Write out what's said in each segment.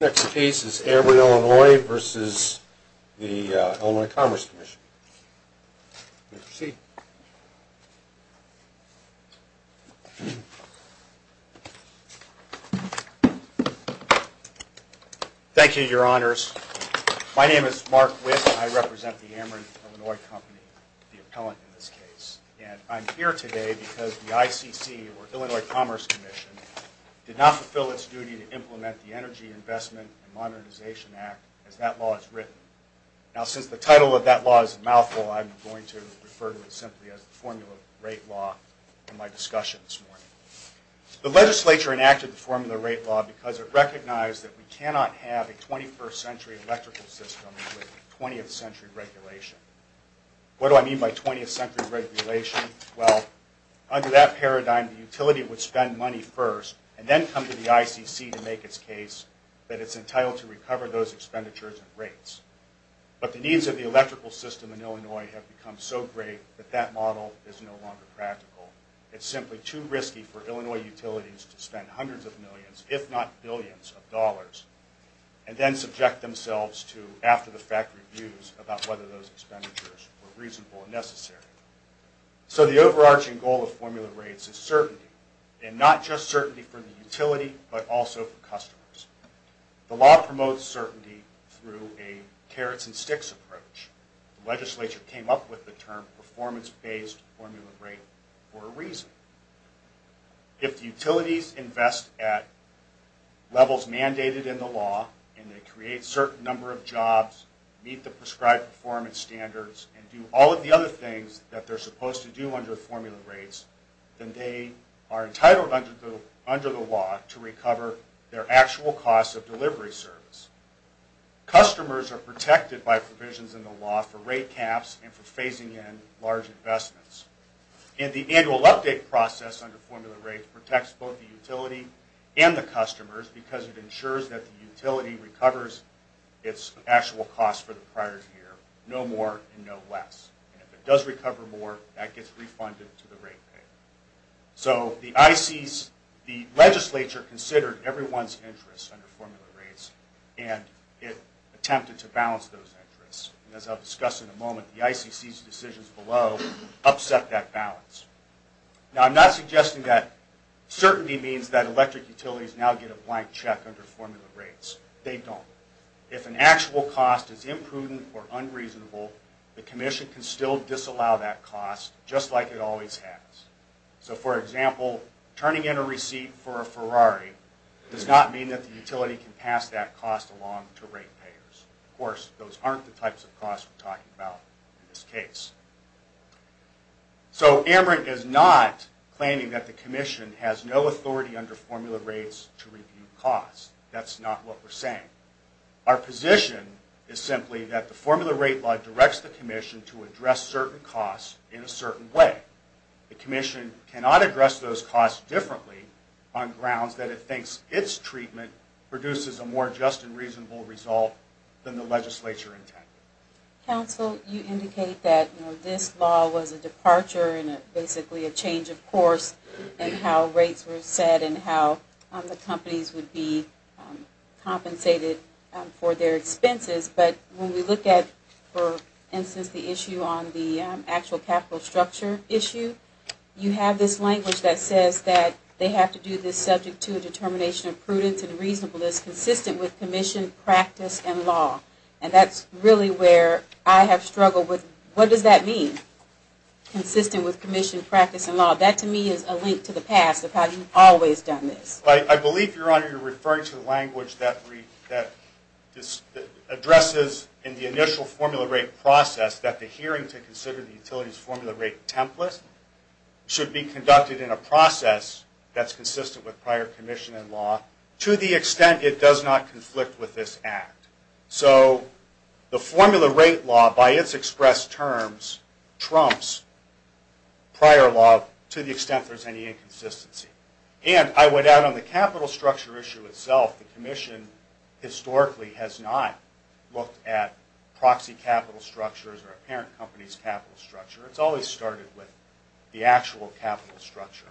The next case is Ameren, Illinois v. The Illinois Commerce Commission. Please proceed. Thank you, Your Honors. My name is Mark Witt. I represent the Ameren, Illinois Company, the appellant in this case. And I'm here today because the ICC, or Illinois Commerce Commission, did not fulfill its duty to implement the Energy Investment and Modernization Act as that law is written. Now, since the title of that law is a mouthful, I'm going to refer to it simply as the Formula Rate Law in my discussion this morning. The legislature enacted the Formula Rate Law because it recognized that we cannot have a 21st century electrical system with 20th century regulation. What do I mean by 20th century regulation? Well, under that paradigm, the utility would spend money first, and then come to the ICC to make its case that it's entitled to recover those expenditures and rates. But the needs of the electrical system in Illinois have become so great that that model is no longer practical. It's simply too risky for Illinois utilities to spend hundreds of millions, if not billions of dollars, and then subject themselves to after-the-fact reviews about whether those expenditures were reasonable and necessary. So the overarching goal of formula rates is certainty, and not just certainty for the utility, but also for customers. The law promotes certainty through a carrots-and-sticks approach. The legislature came up with the term performance-based formula rate for a reason. If the utilities invest at levels mandated in the law, and they create a certain number of jobs, meet the prescribed performance standards, and do all of the other things that they're supposed to do under formula rates, then they are entitled under the law to recover their actual cost of delivery service. Customers are protected by provisions in the law for rate caps and for phasing in large investments. And the annual update process under formula rates protects both the utility and the customers because it ensures that the utility recovers its actual cost for the prior year, no more and no less. And if it does recover more, that gets refunded to the rate payer. So the legislature considered everyone's interests under formula rates, and it attempted to balance those interests. And as I'll discuss in a moment, the ICC's decisions below upset that balance. Now, I'm not suggesting that certainty means that electric utilities now get a blank check under formula rates. They don't. If an actual cost is imprudent or unreasonable, the commission can still disallow that cost, just like it always has. So, for example, turning in a receipt for a Ferrari does not mean that the utility can pass that cost along to rate payers. Of course, those aren't the types of costs we're talking about in this case. So Amarant is not claiming that the commission has no authority under formula rates to review costs. That's not what we're saying. Our position is simply that the formula rate law directs the commission to address certain costs in a certain way. The commission cannot address those costs differently on grounds that it thinks its treatment produces a more just and reasonable result than the legislature intended. Counsel, you indicate that this law was a departure and basically a change of course in how rates were set and how the companies would be compensated for their expenses. But when we look at, for instance, the issue on the actual capital structure issue, you have this language that says that they have to do this subject to a determination of prudence and reasonableness consistent with commission practice and law. And that's really where I have struggled with what does that mean? Consistent with commission practice and law. That to me is a link to the past of how you've always done this. I believe, Your Honor, you're referring to the language that addresses in the initial formula rate process that the hearing to consider the utilities formula rate template should be conducted in a process that's consistent with prior commission and law to the extent it does not conflict with this act. So the formula rate law, by its expressed terms, trumps prior law to the extent there's any inconsistency. And I would add on the capital structure issue itself, the commission historically has not looked at proxy capital structures or a parent company's capital structure. It's always started with the actual capital structure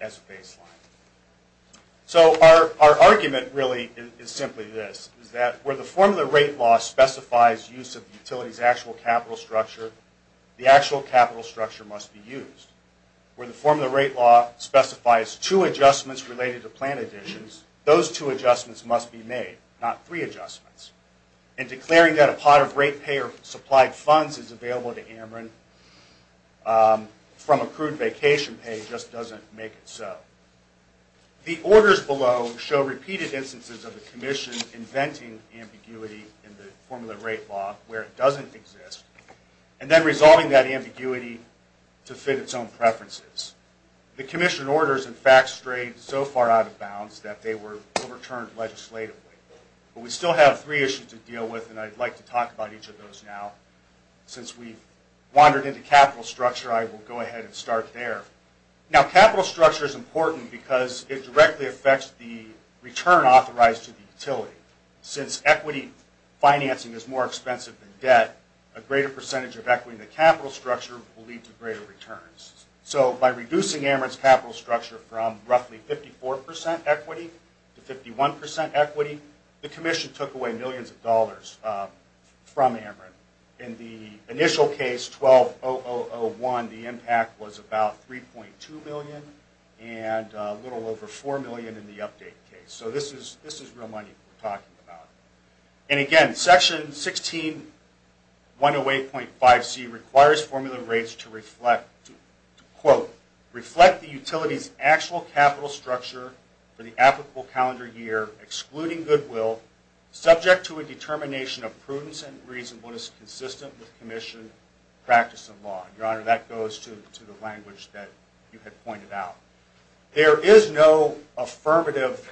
as a baseline. So our argument really is simply this, is that where the formula rate law specifies use of the utility's actual capital structure, the actual capital structure must be used. Where the formula rate law specifies two adjustments related to plant additions, those two adjustments must be made, not three adjustments. And declaring that a pot of rate payer-supplied funds is available to Ameren from accrued vacation pay just doesn't make it so. The orders below show repeated instances of the commission inventing ambiguity in the formula rate law where it doesn't exist, and then resolving that ambiguity to fit its own preferences. The commission orders, in fact, strayed so far out of bounds that they were overturned legislatively. But we still have three issues to deal with, and I'd like to talk about each of those now. Since we've wandered into capital structure, I will go ahead and start there. Now, capital structure is important because it directly affects the return authorized to the utility. Since equity financing is more expensive than debt, a greater percentage of equity in the capital structure will lead to greater returns. So by reducing Ameren's capital structure from roughly 54% equity to 51% equity, the commission took away millions of dollars from Ameren. In the initial case, 12001, the impact was about $3.2 million, and a little over $4 million in the update case. So this is real money we're talking about. And again, Section 16108.5c requires formula rates to reflect, quote, reflect the utility's actual capital structure for the applicable calendar year, excluding goodwill, subject to a determination of prudence and reasonableness consistent with commission practice and law. Your Honor, that goes to the language that you had pointed out. There is no affirmative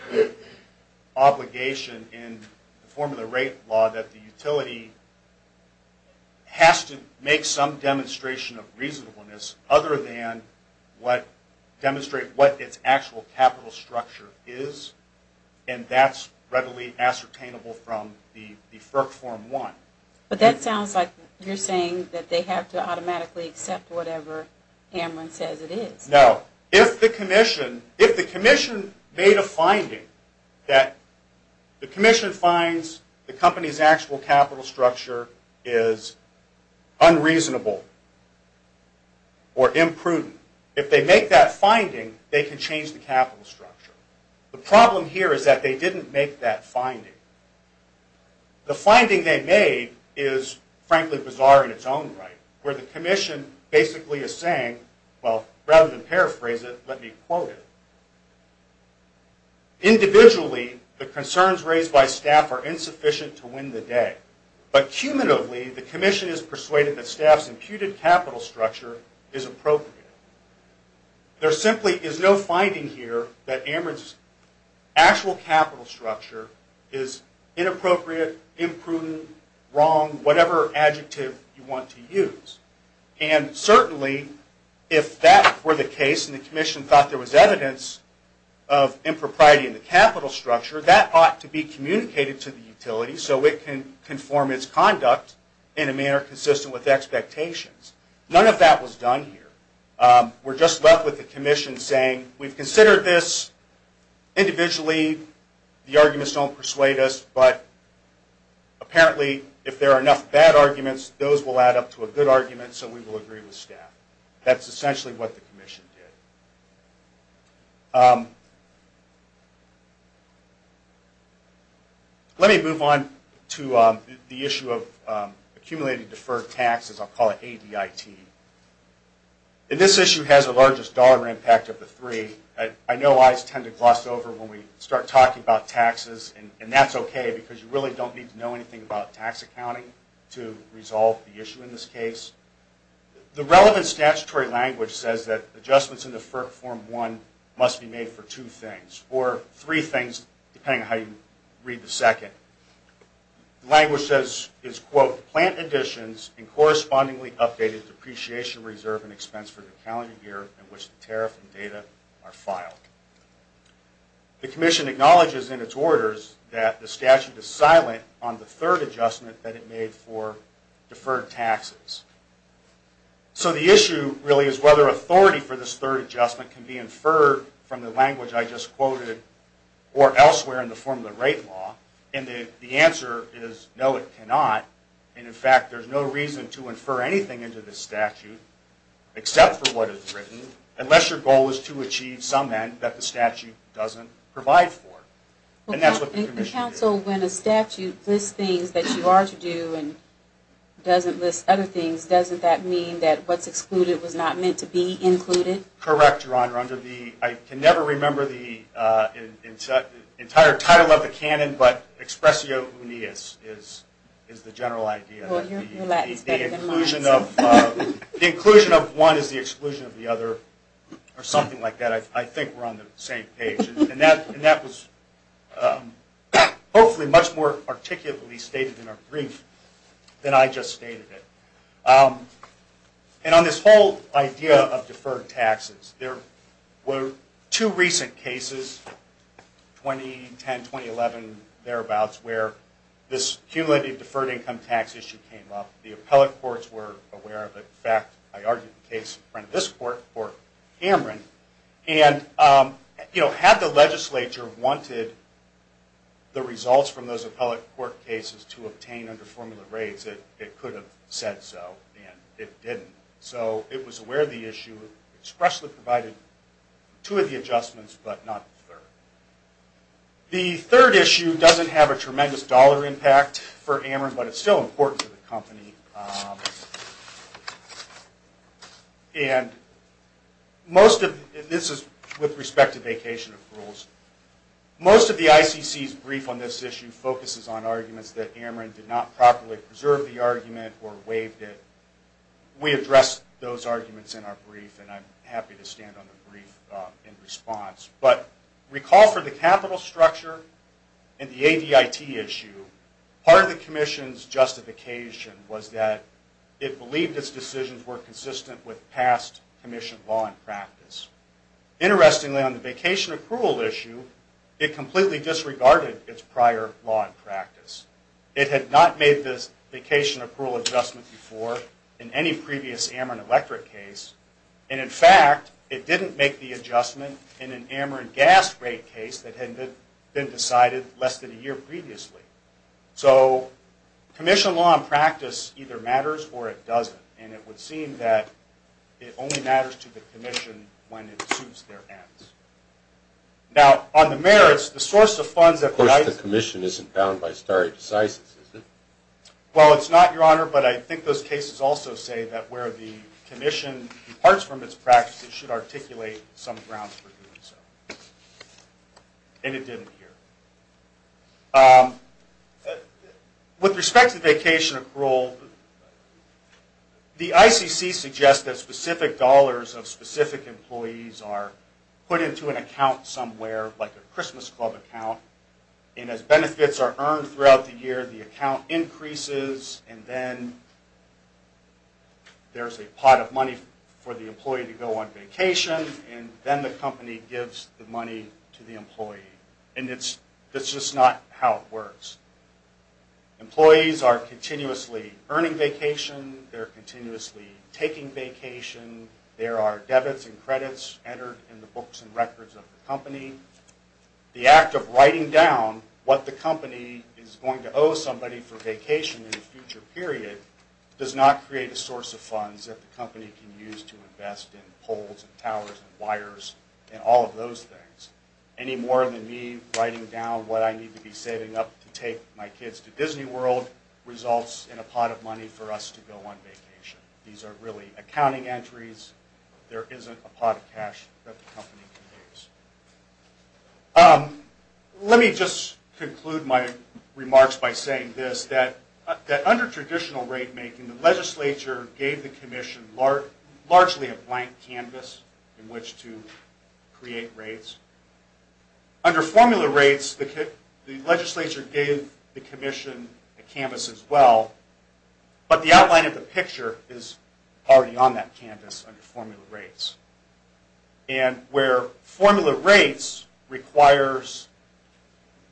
obligation in the formula rate law that the utility has to make some demonstration of reasonableness other than demonstrate what its actual capital structure is, and that's readily ascertainable from the FERC Form 1. But that sounds like you're saying that they have to automatically accept whatever Ameren says it is. No. If the commission made a finding that the commission finds the company's actual capital structure is unreasonable or imprudent, if they make that finding, they can change the capital structure. The problem here is that they didn't make that finding. The finding they made is, frankly, bizarre in its own right, where the commission basically is saying, well, rather than paraphrase it, let me quote it. Individually, the concerns raised by staff are insufficient to win the day. But cumulatively, the commission is persuaded that staff's imputed capital structure is appropriate. There simply is no finding here that Ameren's actual capital structure is inappropriate, imprudent, wrong, whatever adjective you want to use. And certainly, if that were the case and the commission thought there was evidence of impropriety in the capital structure, that ought to be communicated to the utility so it can conform its conduct in a manner consistent with expectations. None of that was done here. We're just left with the commission saying, we've considered this individually. The arguments don't persuade us, but apparently, if there are enough bad arguments, those will add up to a good argument, so we will agree with staff. That's essentially what the commission did. Let me move on to the issue of accumulated deferred taxes. I'll call it ADIT. And this issue has the largest dollar impact of the three. I know I tend to gloss over when we start talking about taxes. And that's okay, because you really don't need to know anything about tax accounting to resolve the issue in this case. The relevant statutory language says that adjustments in the FERC Form 1 must be made for two things, or three things, depending on how you read the second. The language is, quote, plant additions and correspondingly updated depreciation, reserve, and expense for the calendar year in which the tariff and data are filed. The commission acknowledges in its orders that the statute is silent on the third adjustment that it made for deferred taxes. So the issue, really, is whether authority for this third adjustment can be inferred from the language I just quoted, or elsewhere in the form of the rate law. And the answer is, no, it cannot. And, in fact, there's no reason to infer anything into this statute, except for what is written, unless your goal is to achieve some end that the statute doesn't provide for. And that's what the commission did. Well, counsel, when a statute lists things that you are to do and doesn't list other things, doesn't that mean that what's excluded was not meant to be included? Correct, Your Honor. Under the, I can never remember the entire title of the canon, but expressio uneus is the general idea. Well, your Latin is better than mine. The inclusion of one is the exclusion of the other, or something like that. I think we're on the same page. And that was, hopefully, much more articulately stated in our brief than I just stated it. And on this whole idea of deferred taxes, there were two recent cases, 2010, 2011, thereabouts, where this cumulative deferred income tax issue came up. The appellate courts were aware of it. In fact, I argued the case in front of this court for Cameron. And had the legislature wanted the results from those appellate court cases to obtain under formula raids, it could have said so, and it didn't. So it was aware of the issue, expressly provided two of the adjustments, but not the third. The third issue doesn't have a tremendous dollar impact for Ameren, but it's still important to the company. And this is with respect to vacation approvals. Most of the ICC's brief on this issue focuses on arguments that Ameren did not properly preserve the argument or waived it. We addressed those arguments in our brief, and I'm happy to stand on the brief in response. But recall for the capital structure and the ADIT issue, part of the commission's justification was that it believed its decisions were consistent with past commission law and practice. Interestingly, on the vacation approval issue, it completely disregarded its prior law and practice. It had not made this vacation approval adjustment before in any previous Ameren Electric case, and in fact, it didn't make the adjustment in an Ameren Gas Raid case that had been decided less than a year previously. So commission law and practice either matters or it doesn't, and it would seem that it only matters to the commission when it suits their ends. Now, on the merits, the source of funds that provides the commission isn't Well, it's not, Your Honor, but I think those cases also say that where the commission departs from its practice, it should articulate some grounds for doing so. And it didn't here. With respect to vacation approval, the ICC suggests that specific dollars of specific employees are put into an account somewhere, like a Christmas club account, and as benefits are earned throughout the year, the account increases and then there's a pot of money for the employee to go on vacation, and then the company gives the money to the employee. And that's just not how it works. Employees are continuously earning vacation. They're continuously taking vacation. There are debits and credits entered in the books and records of the company. The act of writing down what the company is going to owe somebody for vacation in a future period does not create a source of funds that the company can use to invest in poles and towers and wires and all of those things. Any more than me writing down what I need to be saving up to take my kids to Disney World results in a pot of money for us to go on vacation. These are really accounting entries. There isn't a pot of cash that the company can use. Let me just conclude my remarks by saying this, that under traditional rate making, the legislature gave the commission largely a blank canvas in which to create rates. Under formula rates, the legislature gave the commission a canvas as well, but the outline of the picture is already on that canvas under formula rates. And where formula rates requires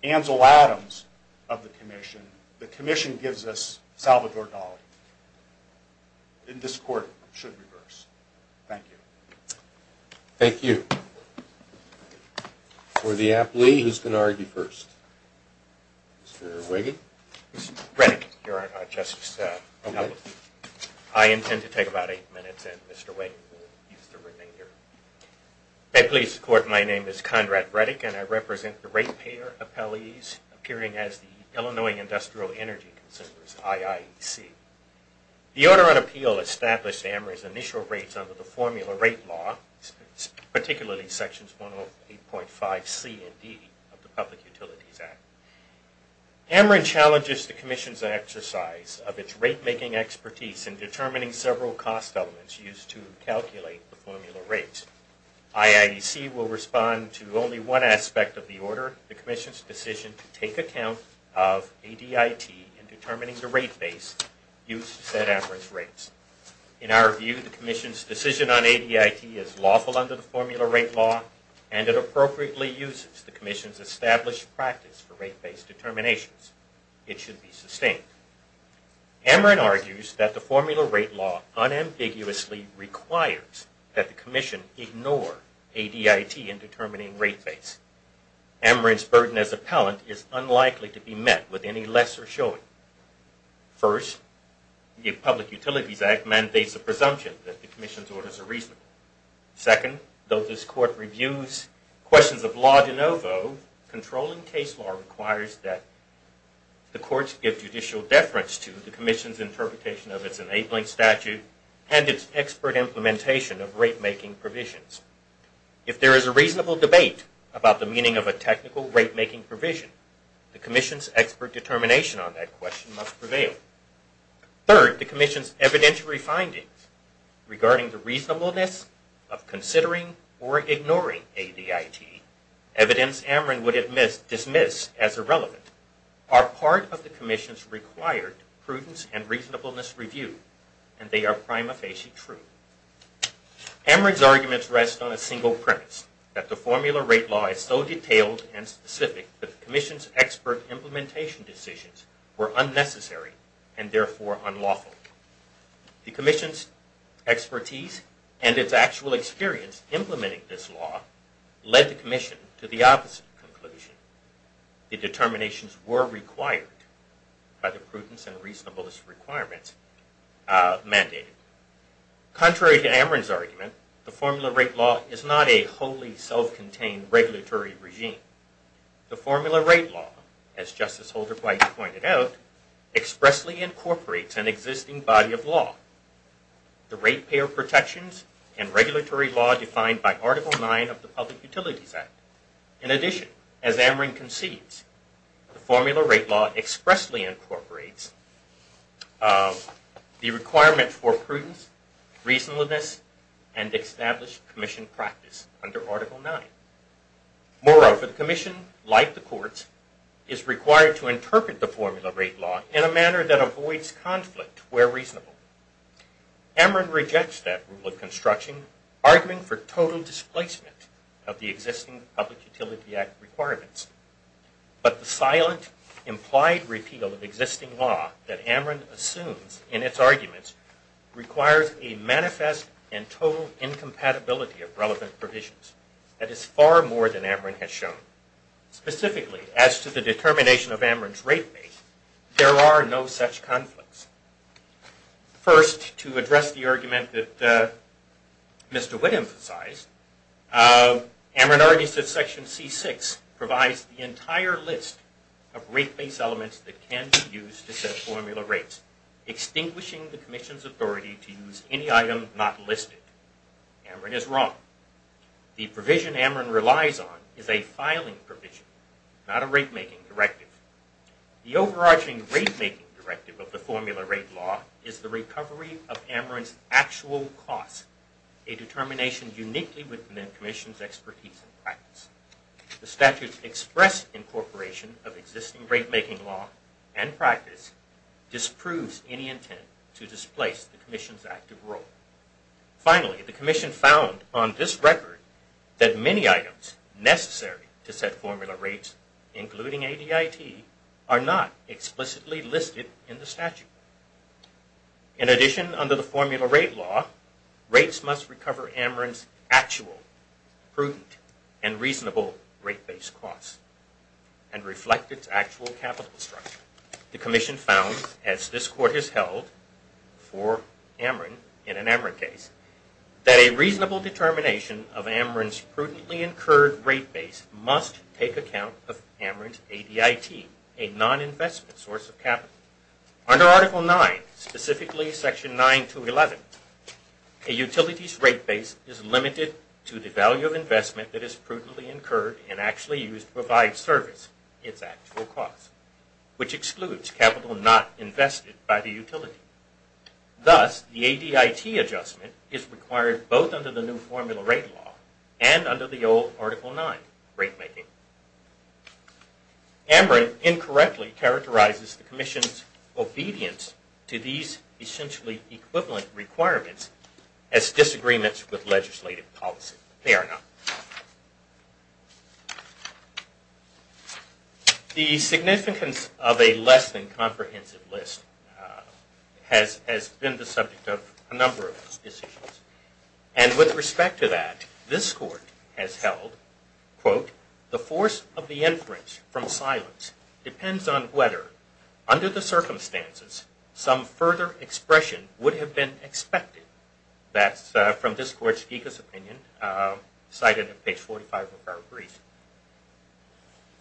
Ansel Adams of the commission, the commission gives us Salvador Dali. And this court should reverse. Thank you. Thank you. For the employee, who's going to argue first? Mr. Wiggins. I intend to take about eight minutes and Mr. Wiggins will use the remainder. May it please the court, my name is Conrad Reddick, and I represent the rate payer appellees appearing as the Illinois Industrial Energy Consumers, IIEC. The order on appeal established AMRA's initial rates under the formula rate law, particularly sections 108.5C and D of the public utility insurance act. AMRA challenges the commission's exercise of its rate making expertise in determining several cost elements used to calculate the formula rates. IIEC will respond to only one aspect of the order, the commission's decision to take account of ADIT in determining the rate base used to set AMRA's rates. In our view, the commission's decision on ADIT is lawful under the formula rate law and it appropriately uses the commission's established practice for rate base determinations. It should be sustained. AMRA argues that the formula rate law unambiguously requires that the commission ignore ADIT in determining rate base. AMRA's burden as appellant is unlikely to be met with any lesser showing. First, the public utilities act mandates the presumption that the commission's orders are reasonable. Second, though this court reviews questions of law de novo, controlling case law requires that the courts give judicial deference to the commission's interpretation of its enabling statute and its expert implementation of rate making provisions. If there is a reasonable debate about the meaning of a technical rate making provision, the commission's expert determination on that question must prevail. Third, the commission's evidentiary findings regarding the reasonableness of considering or ignoring ADIT, evidence AMRA would dismiss as irrelevant, are part of the commission's required prudence and reasonableness review and they are prima facie true. AMRA's arguments rest on a single premise, that the formula rate law is so detailed and specific that the commission's expert implementation decisions were unnecessary and therefore unlawful. The commission's expertise and its actual experience implementing this law led the commission to the opposite conclusion. The determinations were required by the prudence and reasonableness requirements mandated. Contrary to AMRA's argument, the formula rate law is not a wholly self-contained regulatory regime. The formula rate law, as Justice Holder-Bright pointed out, expressly incorporates an existing body of law. The rate payer protections and regulatory law defined by Article 9 of the Public Utilities Act. In addition, as AMRA concedes, the formula rate law expressly incorporates the requirement for prudence, reasonableness, and established commission practice under Article 9. Moreover, the commission, like the courts, is required to interpret the formula rate law in a manner that avoids conflict where reasonable. AMRA rejects that rule of construction, arguing for total displacement of the existing Public Utility Act requirements. But the silent, implied repeal of existing law that AMRA assumes in its arguments requires a manifest and total incompatibility of relevant provisions. That is far more than AMRA has shown. Specifically, as to the determination of AMRA's rate base, there are no such conflicts. First, to address the argument that Mr. Witt emphasized, AMRA argues that Section C6 provides the entire list of rate base elements that can be used to set formula rates, extinguishing the commission's authority to use any item not listed. AMRA is wrong. The provision AMRA relies on is a filing provision, not a rate-making directive. The overarching rate-making directive of the formula rate law is the recovery of AMRA's actual costs, a determination uniquely within the commission's expertise and practice. The statute's express incorporation of existing rate-making law and practice disproves any intent to displace the commission's active role. Finally, the commission found on this record that many items necessary to set formula rates, including ADIT, are not explicitly listed in the statute. In addition, under the formula rate law, rates must recover AMRA's actual, prudent, and reasonable rate base costs and reflect its actual capital structure. The commission found, as this Court has held for AMRA in an AMRA case, that a reasonable determination of AMRA's prudently incurred rate base must take account of AMRA's ADIT, a non-investment source of capital. Under Article 9, specifically Section 9-11, a utility's rate base is limited to the value of investment that is prudently incurred and actually used to provide service, its actual cost, which excludes capital not invested by the utility. Thus, the ADIT adjustment is required both under the new formula rate law and under the old Article 9 rate-making. AMRA incorrectly characterizes the commission's obedience to these essentially equivalent requirements as disagreements with legislative policy. Fair enough. The significance of a less than comprehensive list has been the subject of a number of decisions. And with respect to that, this Court has held, quote, the force of the inference from silence depends on whether, under the circumstances, some further expression would have been expected. That's from this Court's Geekus Opinion, cited at page 45 of our brief.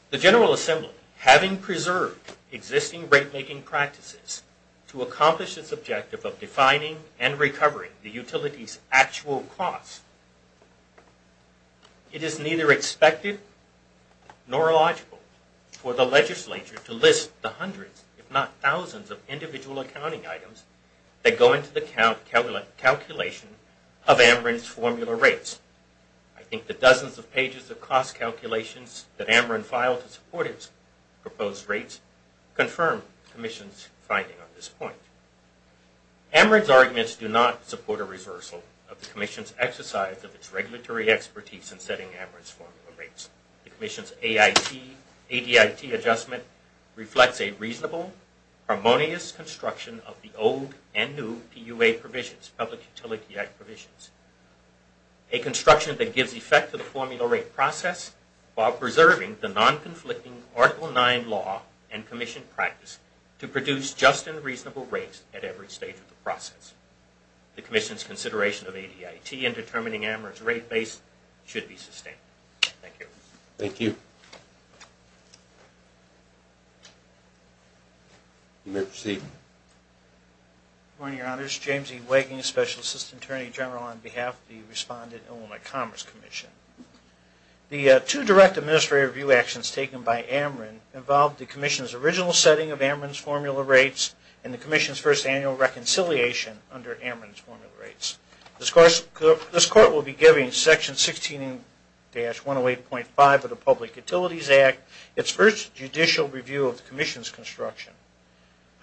The General Assembly, having preserved existing rate-making practices to accomplish its objective of defining and recovering the utility's actual cost, it is neither expected nor logical for the legislature to list the hundreds, if not thousands, of individual accounting items that go into the calculation of AMRIN's formula rates. I think the dozens of pages of cost calculations that AMRIN filed to support its proposed rates confirm the Commission's finding on this point. AMRIN's arguments do not support a reversal of the Commission's exercise of its regulatory expertise in setting AMRIN's formula rates. The Commission's ADIT adjustment reflects a reasonable, harmonious construction of the old and new PUA provisions, Public Utility Act provisions, a construction that gives effect to the formula rate process while preserving the non-conflicting Article IX law and Commission practice to produce just and reasonable rates at every stage of the process. The Commission's consideration of ADIT in determining AMRIN's rate base should be sustained. Thank you. Thank you. You may proceed. Good morning, Your Honors. James E. Wagging, Special Assistant Attorney General, on behalf of the Respondent Illinois Commerce Commission. The two direct administrative review actions taken by AMRIN involved the Commission's original setting of AMRIN's formula rates and the Commission's first annual reconciliation under AMRIN's formula rates. This Court will be giving Section 16-108.5 of the Public Utilities Act its first judicial review of the Commission's construction.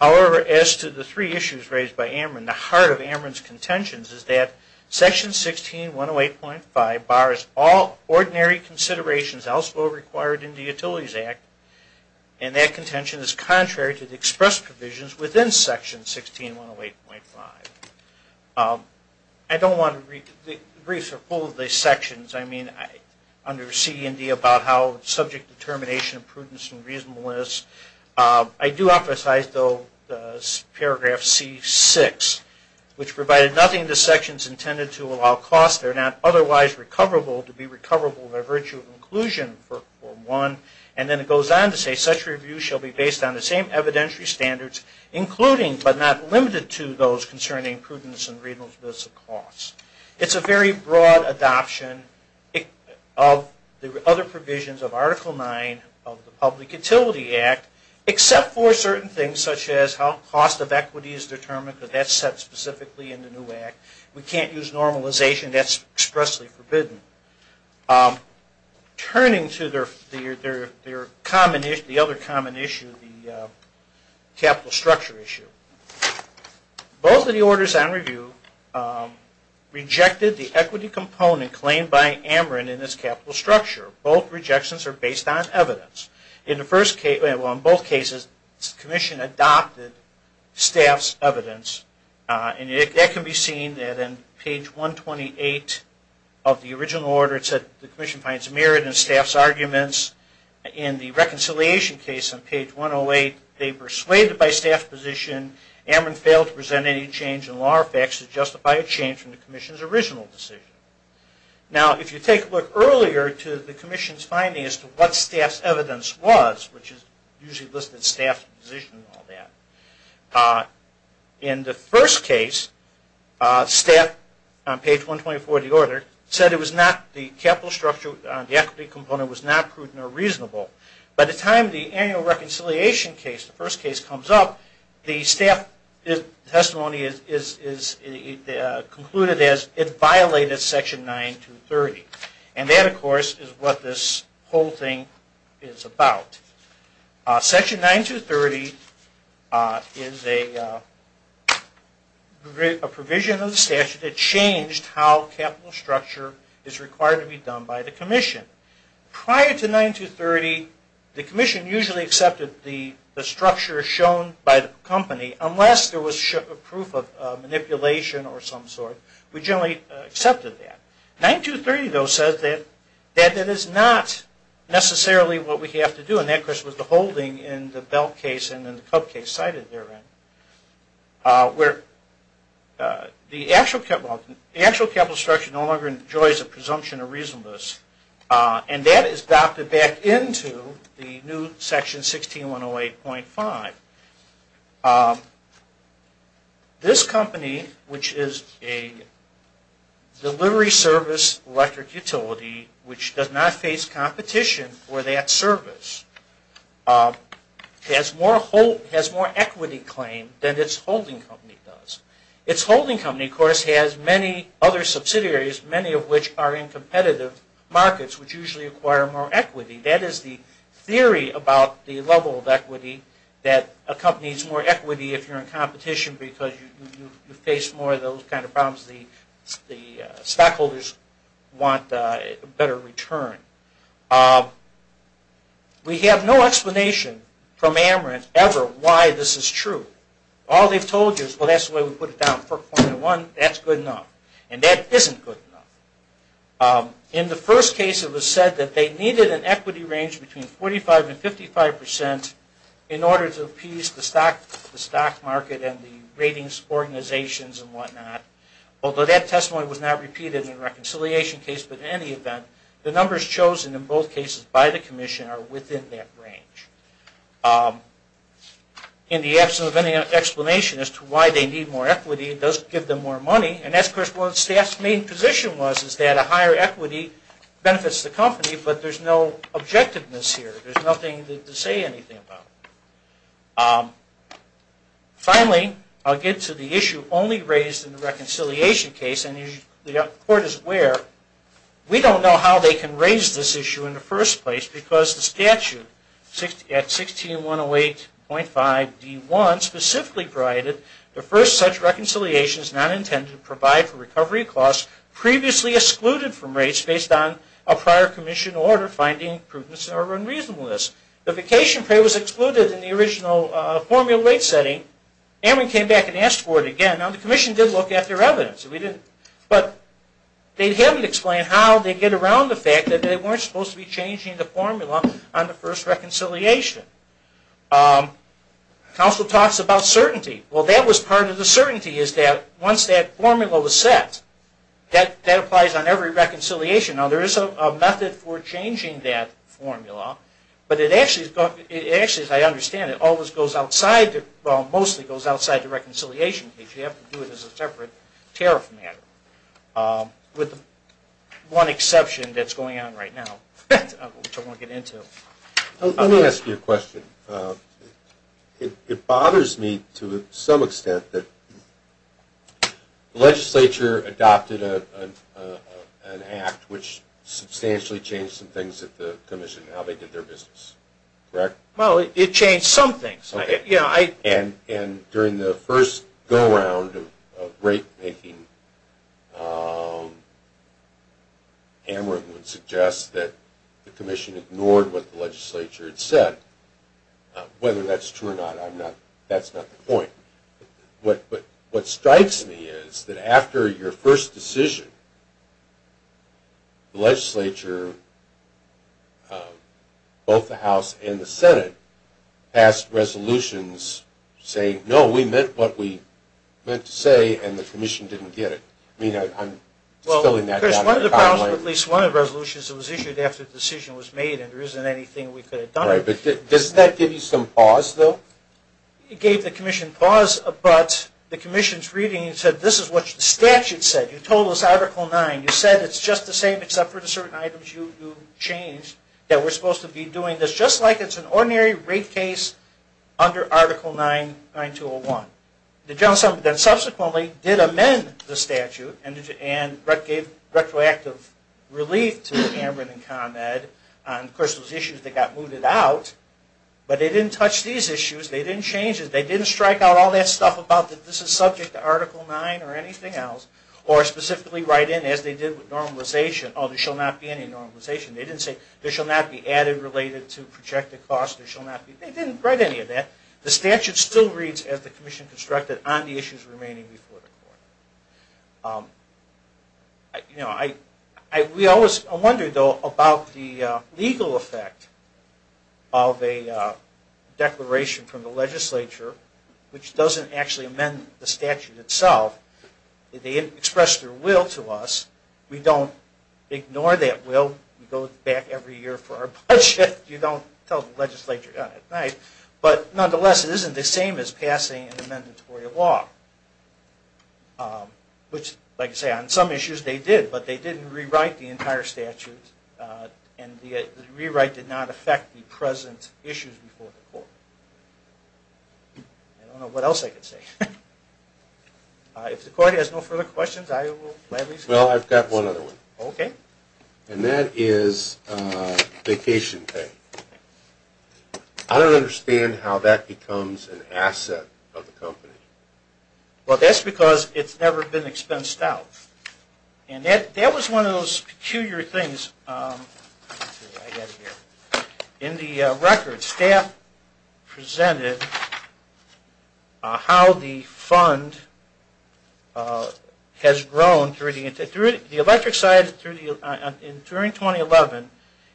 However, as to the three issues raised by AMRIN, the heart of AMRIN's contentions is that Section 16-108.5 bars all ordinary considerations elsewhere required in the Utilities Act, and that contention is contrary to the expressed provisions within Section 16-108.5. I don't want to read the briefs are full of these sections. I mean, under C and D about how subject determination, prudence, and reasonableness. I do emphasize, though, Paragraph C-6, which provided nothing to sections intended to allow costs that are not otherwise recoverable to be recoverable by virtue of inclusion, for one. And then it goes on to say, such reviews shall be based on the same evidentiary standards, including but not limited to those concerning prudence and reasonableness of costs. It's a very broad adoption of the other provisions of Article 9 of the Public Utility Act, except for certain things such as how cost of equity is determined, because that's set specifically in the new Act. We can't use normalization. That's expressly forbidden. Turning to the other common issue, the capital structure issue. Both of the orders on review rejected the equity component claimed by Ameren in this capital structure. Both rejections are based on evidence. In both cases, the Commission adopted staff's evidence, and that can be seen that in page 128 of the original order, it said the Commission finds merit in staff's arguments. In the reconciliation case on page 108, they persuaded by staff's position Ameren failed to present any change in law or facts to justify a change from the Commission's original decision. Now, if you take a look earlier to the Commission's finding as to what staff's evidence was, which is usually listed staff's position and all that, in the first case, staff on page 124 of the order said it was not the capital structure, the equity component was not prudent or reasonable. By the time the annual reconciliation case, the first case, comes up, the staff testimony is concluded as it violated Section 9230. And that, of course, is what this whole thing is about. Section 9230 is a provision of the statute that changed how capital structure is required to be done by the Commission. Prior to 9230, the Commission usually accepted the structure shown by the company unless there was proof of manipulation or some sort. We generally accepted that. 9230, though, says that that is not necessarily what we have to do. And that, of course, was the holding in the belt case and in the cup case cited therein, where the actual capital structure no longer enjoys a presumption of reasonableness. And that is adopted back into the new Section 16108.5. This company, which is a delivery service electric utility, which does not face competition for that service, has more equity claim than its holding company does. Its holding company, of course, has many other subsidiaries, many of which are in competitive markets, which usually acquire more equity. That is the theory about the level of equity that a company needs more equity if you're in competition because you face more of those kind of problems. The stockholders want a better return. We have no explanation from Amerit ever why this is true. All they've told you is, well, that's the way we put it down, 4.1, that's good enough. And that isn't good enough. In the first case, it was said that they needed an equity range between 45 and 55 percent in order to appease the stock market and the ratings organizations and whatnot. Although that testimony was not repeated in the reconciliation case, but in any event, the numbers chosen in both cases by the Commission are within that range. In the absence of any explanation as to why they need more equity, it does give them more money. And that's, of course, what the staff's main position was, is that a higher equity benefits the company, but there's no objectiveness here. There's nothing to say anything about. Finally, I'll get to the issue only raised in the reconciliation case, and as the Court is aware, we don't know how they can raise this issue in the first place because the statute at 16108.5d1 specifically provided the first reconciliation is not intended to provide for recovery costs previously excluded from rates based on a prior Commission order finding prudence or unreasonableness. The vacation pay was excluded in the original formula rate setting, and we came back and asked for it again. Now, the Commission did look at their evidence, but they haven't explained how they get around the fact that they weren't supposed to be changing the formula on the first reconciliation. Counsel talks about certainty. Well, that was part of the certainty, is that once that formula was set, that applies on every reconciliation. Now, there is a method for changing that formula, but it actually, as I understand it, always goes outside, well, mostly goes outside the reconciliation case. You have to do it as a separate tariff matter, with one exception that's going on right now, which I won't get into. Let me ask you a question. It bothers me to some extent that the legislature adopted an act which substantially changed some things at the Commission in how they did their business, correct? Well, it changed some things. Okay. And during the first go-round of rate-making, Hamrick would suggest that the Commission ignored what the legislature had said. Whether that's true or not, that's not the point. But what strikes me is that after your first decision, the legislature, both the House and the Senate, passed resolutions saying, no, we meant what we meant to say, and the Commission didn't get it. I mean, I'm spilling that down. One of the problems with at least one of the resolutions that was issued after the decision was made, and there isn't anything we could have done. Right. But doesn't that give you some pause, though? It gave the Commission pause, but the Commission's reading said, this is what the statute said. You told us Article 9. You said it's just the same except for the certain items you changed, that we're supposed to be doing this, just like it's an ordinary rate case under Article 9, 9201. The General Assembly then subsequently did amend the statute and gave retroactive relief to Hamrick and ComEd on, of course, those issues that got mooted out, but they didn't touch these issues. They didn't change it. They didn't strike out all that stuff about that this is subject to Article 9 or anything else, or specifically write in, as they did with normalization, oh, there shall not be any normalization. They didn't say, there shall not be added related to projected costs. They didn't write any of that. The statute still reads, as the Commission constructed, on the issues remaining before the court. We always wonder, though, about the legal effect of a declaration from the legislature, which doesn't actually amend the statute itself. They didn't express their will to us. We don't ignore that will. We go back every year for our budget. You don't tell the legislature that. But, nonetheless, it isn't the same as passing an amendatory law, which, like I say, on some issues they did, but they didn't rewrite the entire statute, and the rewrite did not affect the present issues before the court. I don't know what else I could say. If the court has no further questions, I will at least let you know. Well, I've got one other one. Okay. And that is vacation pay. I don't understand how that becomes an asset of the company. Well, that's because it's never been expensed out. That was one of those peculiar things. In the record, staff presented how the fund has grown through the electric side during 2011.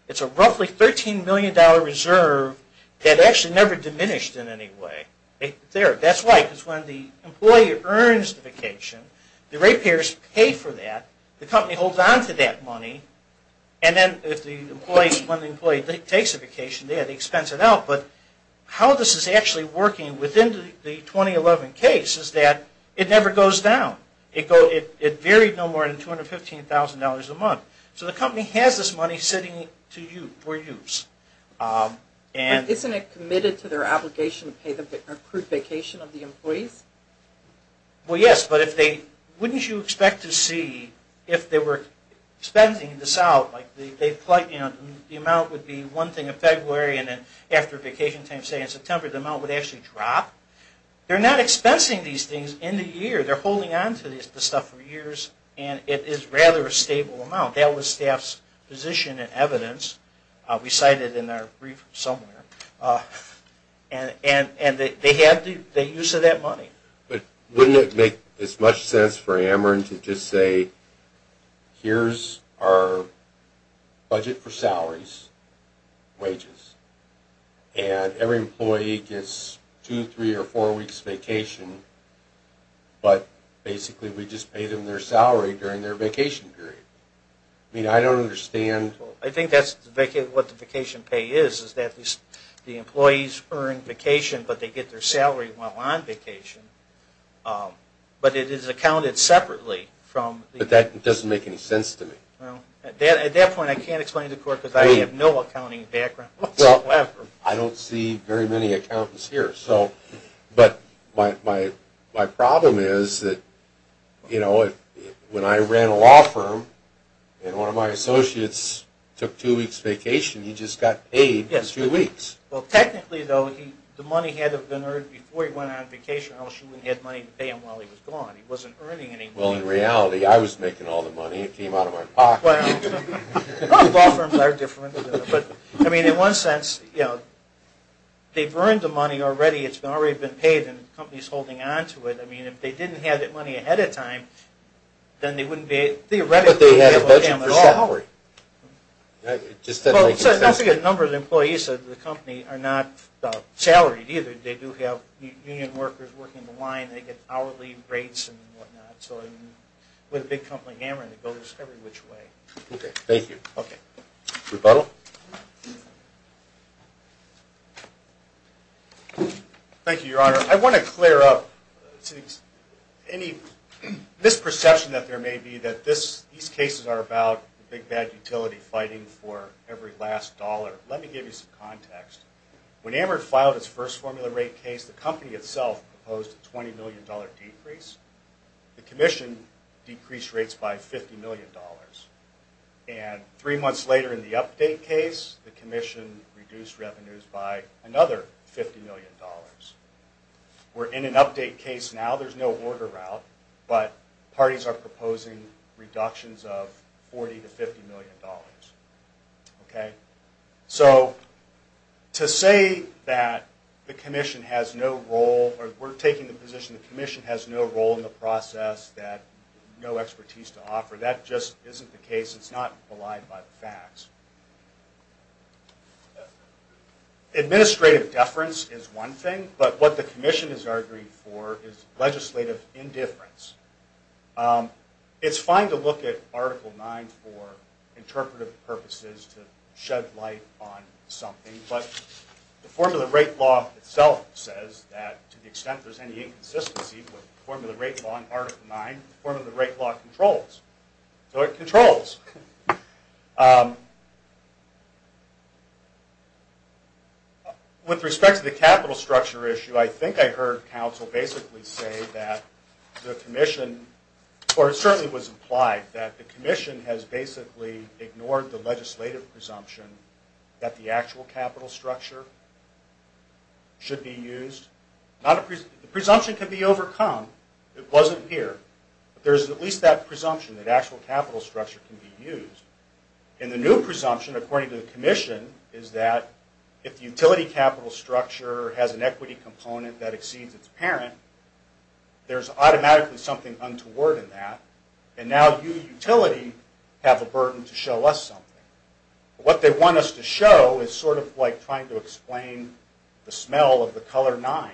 It's a roughly $13 million reserve that actually never diminished in any way. That's why, because when the employee earns the vacation, the rate payers pay for that, the company holds on to that money, and then when the employee takes a vacation, they have to expense it out. But how this is actually working within the 2011 case is that it never goes down. It varied no more than $215,000 a month. So the company has this money sitting for use. But isn't it committed to their obligation to pay the accrued vacation of the employees? Well, yes. But wouldn't you expect to see, if they were expensing this out, the amount would be one thing in February, and then after vacation time, say in September, the amount would actually drop? They're not expensing these things in the year. They're holding on to the stuff for years, and it is rather a stable amount. That was staff's position and evidence. We cite it in our brief somewhere. And they have the use of that money. But wouldn't it make as much sense for Ameren to just say, here's our budget for salaries, wages. And every employee gets two, three, or four weeks vacation, but basically we just pay them their salary during their vacation period? I mean, I don't understand. I think that's what the vacation pay is, is that the employees earn vacation, but they get their salary while on vacation. But it is accounted separately from the... But that doesn't make any sense to me. At that point, I can't explain to the court because I have no accounting background whatsoever. Well, I don't see very many accountants here. But my problem is that when I ran a law firm and one of my associates took two weeks vacation, he just got paid for two weeks. Well, technically, though, the money had to have been earned before he went on vacation. I'm assuming he had money to pay him while he was gone. He wasn't earning any money. Well, in reality, I was making all the money. It came out of my pocket. Well, law firms are different. But, I mean, in one sense, they've earned the money already. It's already been paid and the company's holding on to it. I mean, if they didn't have that money ahead of time, then they wouldn't be theoretically able to pay him at all. But they had a budget for salary. It just doesn't make any sense. Well, it's not a good number of employees, so the company are not salaried either. They do have union workers working the line. They get hourly rates and whatnot. So with a big company like Ameritrade, they go this every which way. Okay. Thank you. Okay. Rebuttal? Thank you, Your Honor. I want to clear up any misperception that there may be that these cases are about the big, bad utility fighting for every last dollar. Let me give you some context. When Ameritrade filed its first formula rate case, the company itself proposed a $20 million decrease. The commission decreased rates by $50 million. And three months later in the update case, the commission reduced revenues by another $50 million. We're in an update case now. There's no order route. But parties are proposing reductions of $40 to $50 million. Okay. So to say that the commission has no role or we're taking the position the commission has no role in the process, that no expertise to offer, that just isn't the case. It's not belied by the facts. Administrative deference is one thing. But what the commission is arguing for is legislative indifference. It's fine to look at Article 9 for interpretive purposes to shed light on something. But the formula rate law itself says that to the extent there's any consistency with the formula rate law in Article 9, the formula rate law controls. So it controls. With respect to the capital structure issue, I think I heard counsel basically say that the commission, or it certainly was implied, that the commission has basically ignored the legislative presumption that the actual capital structure should be used. The presumption can be overcome. It wasn't here. But there's at least that presumption that actual capital structure can be used. And the new presumption, according to the commission, is that if the utility capital structure has an equity component that exceeds its parent, there's automatically something untoward in that. And now you, utility, have a burden to show us something. What they want us to show is sort of like trying to explain the smell of the color nine,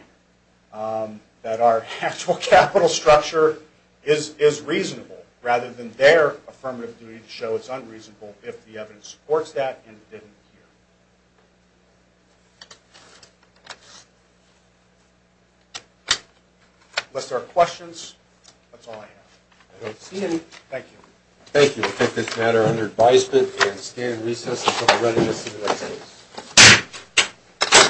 that our actual capital structure is reasonable rather than their affirmative duty to show it's unreasonable if the evidence supports that and it didn't appear. Unless there are questions, that's all I have. I don't see any. Thank you. Thank you. We'll take this matter under advisement and stand recess until the readiness of the next case.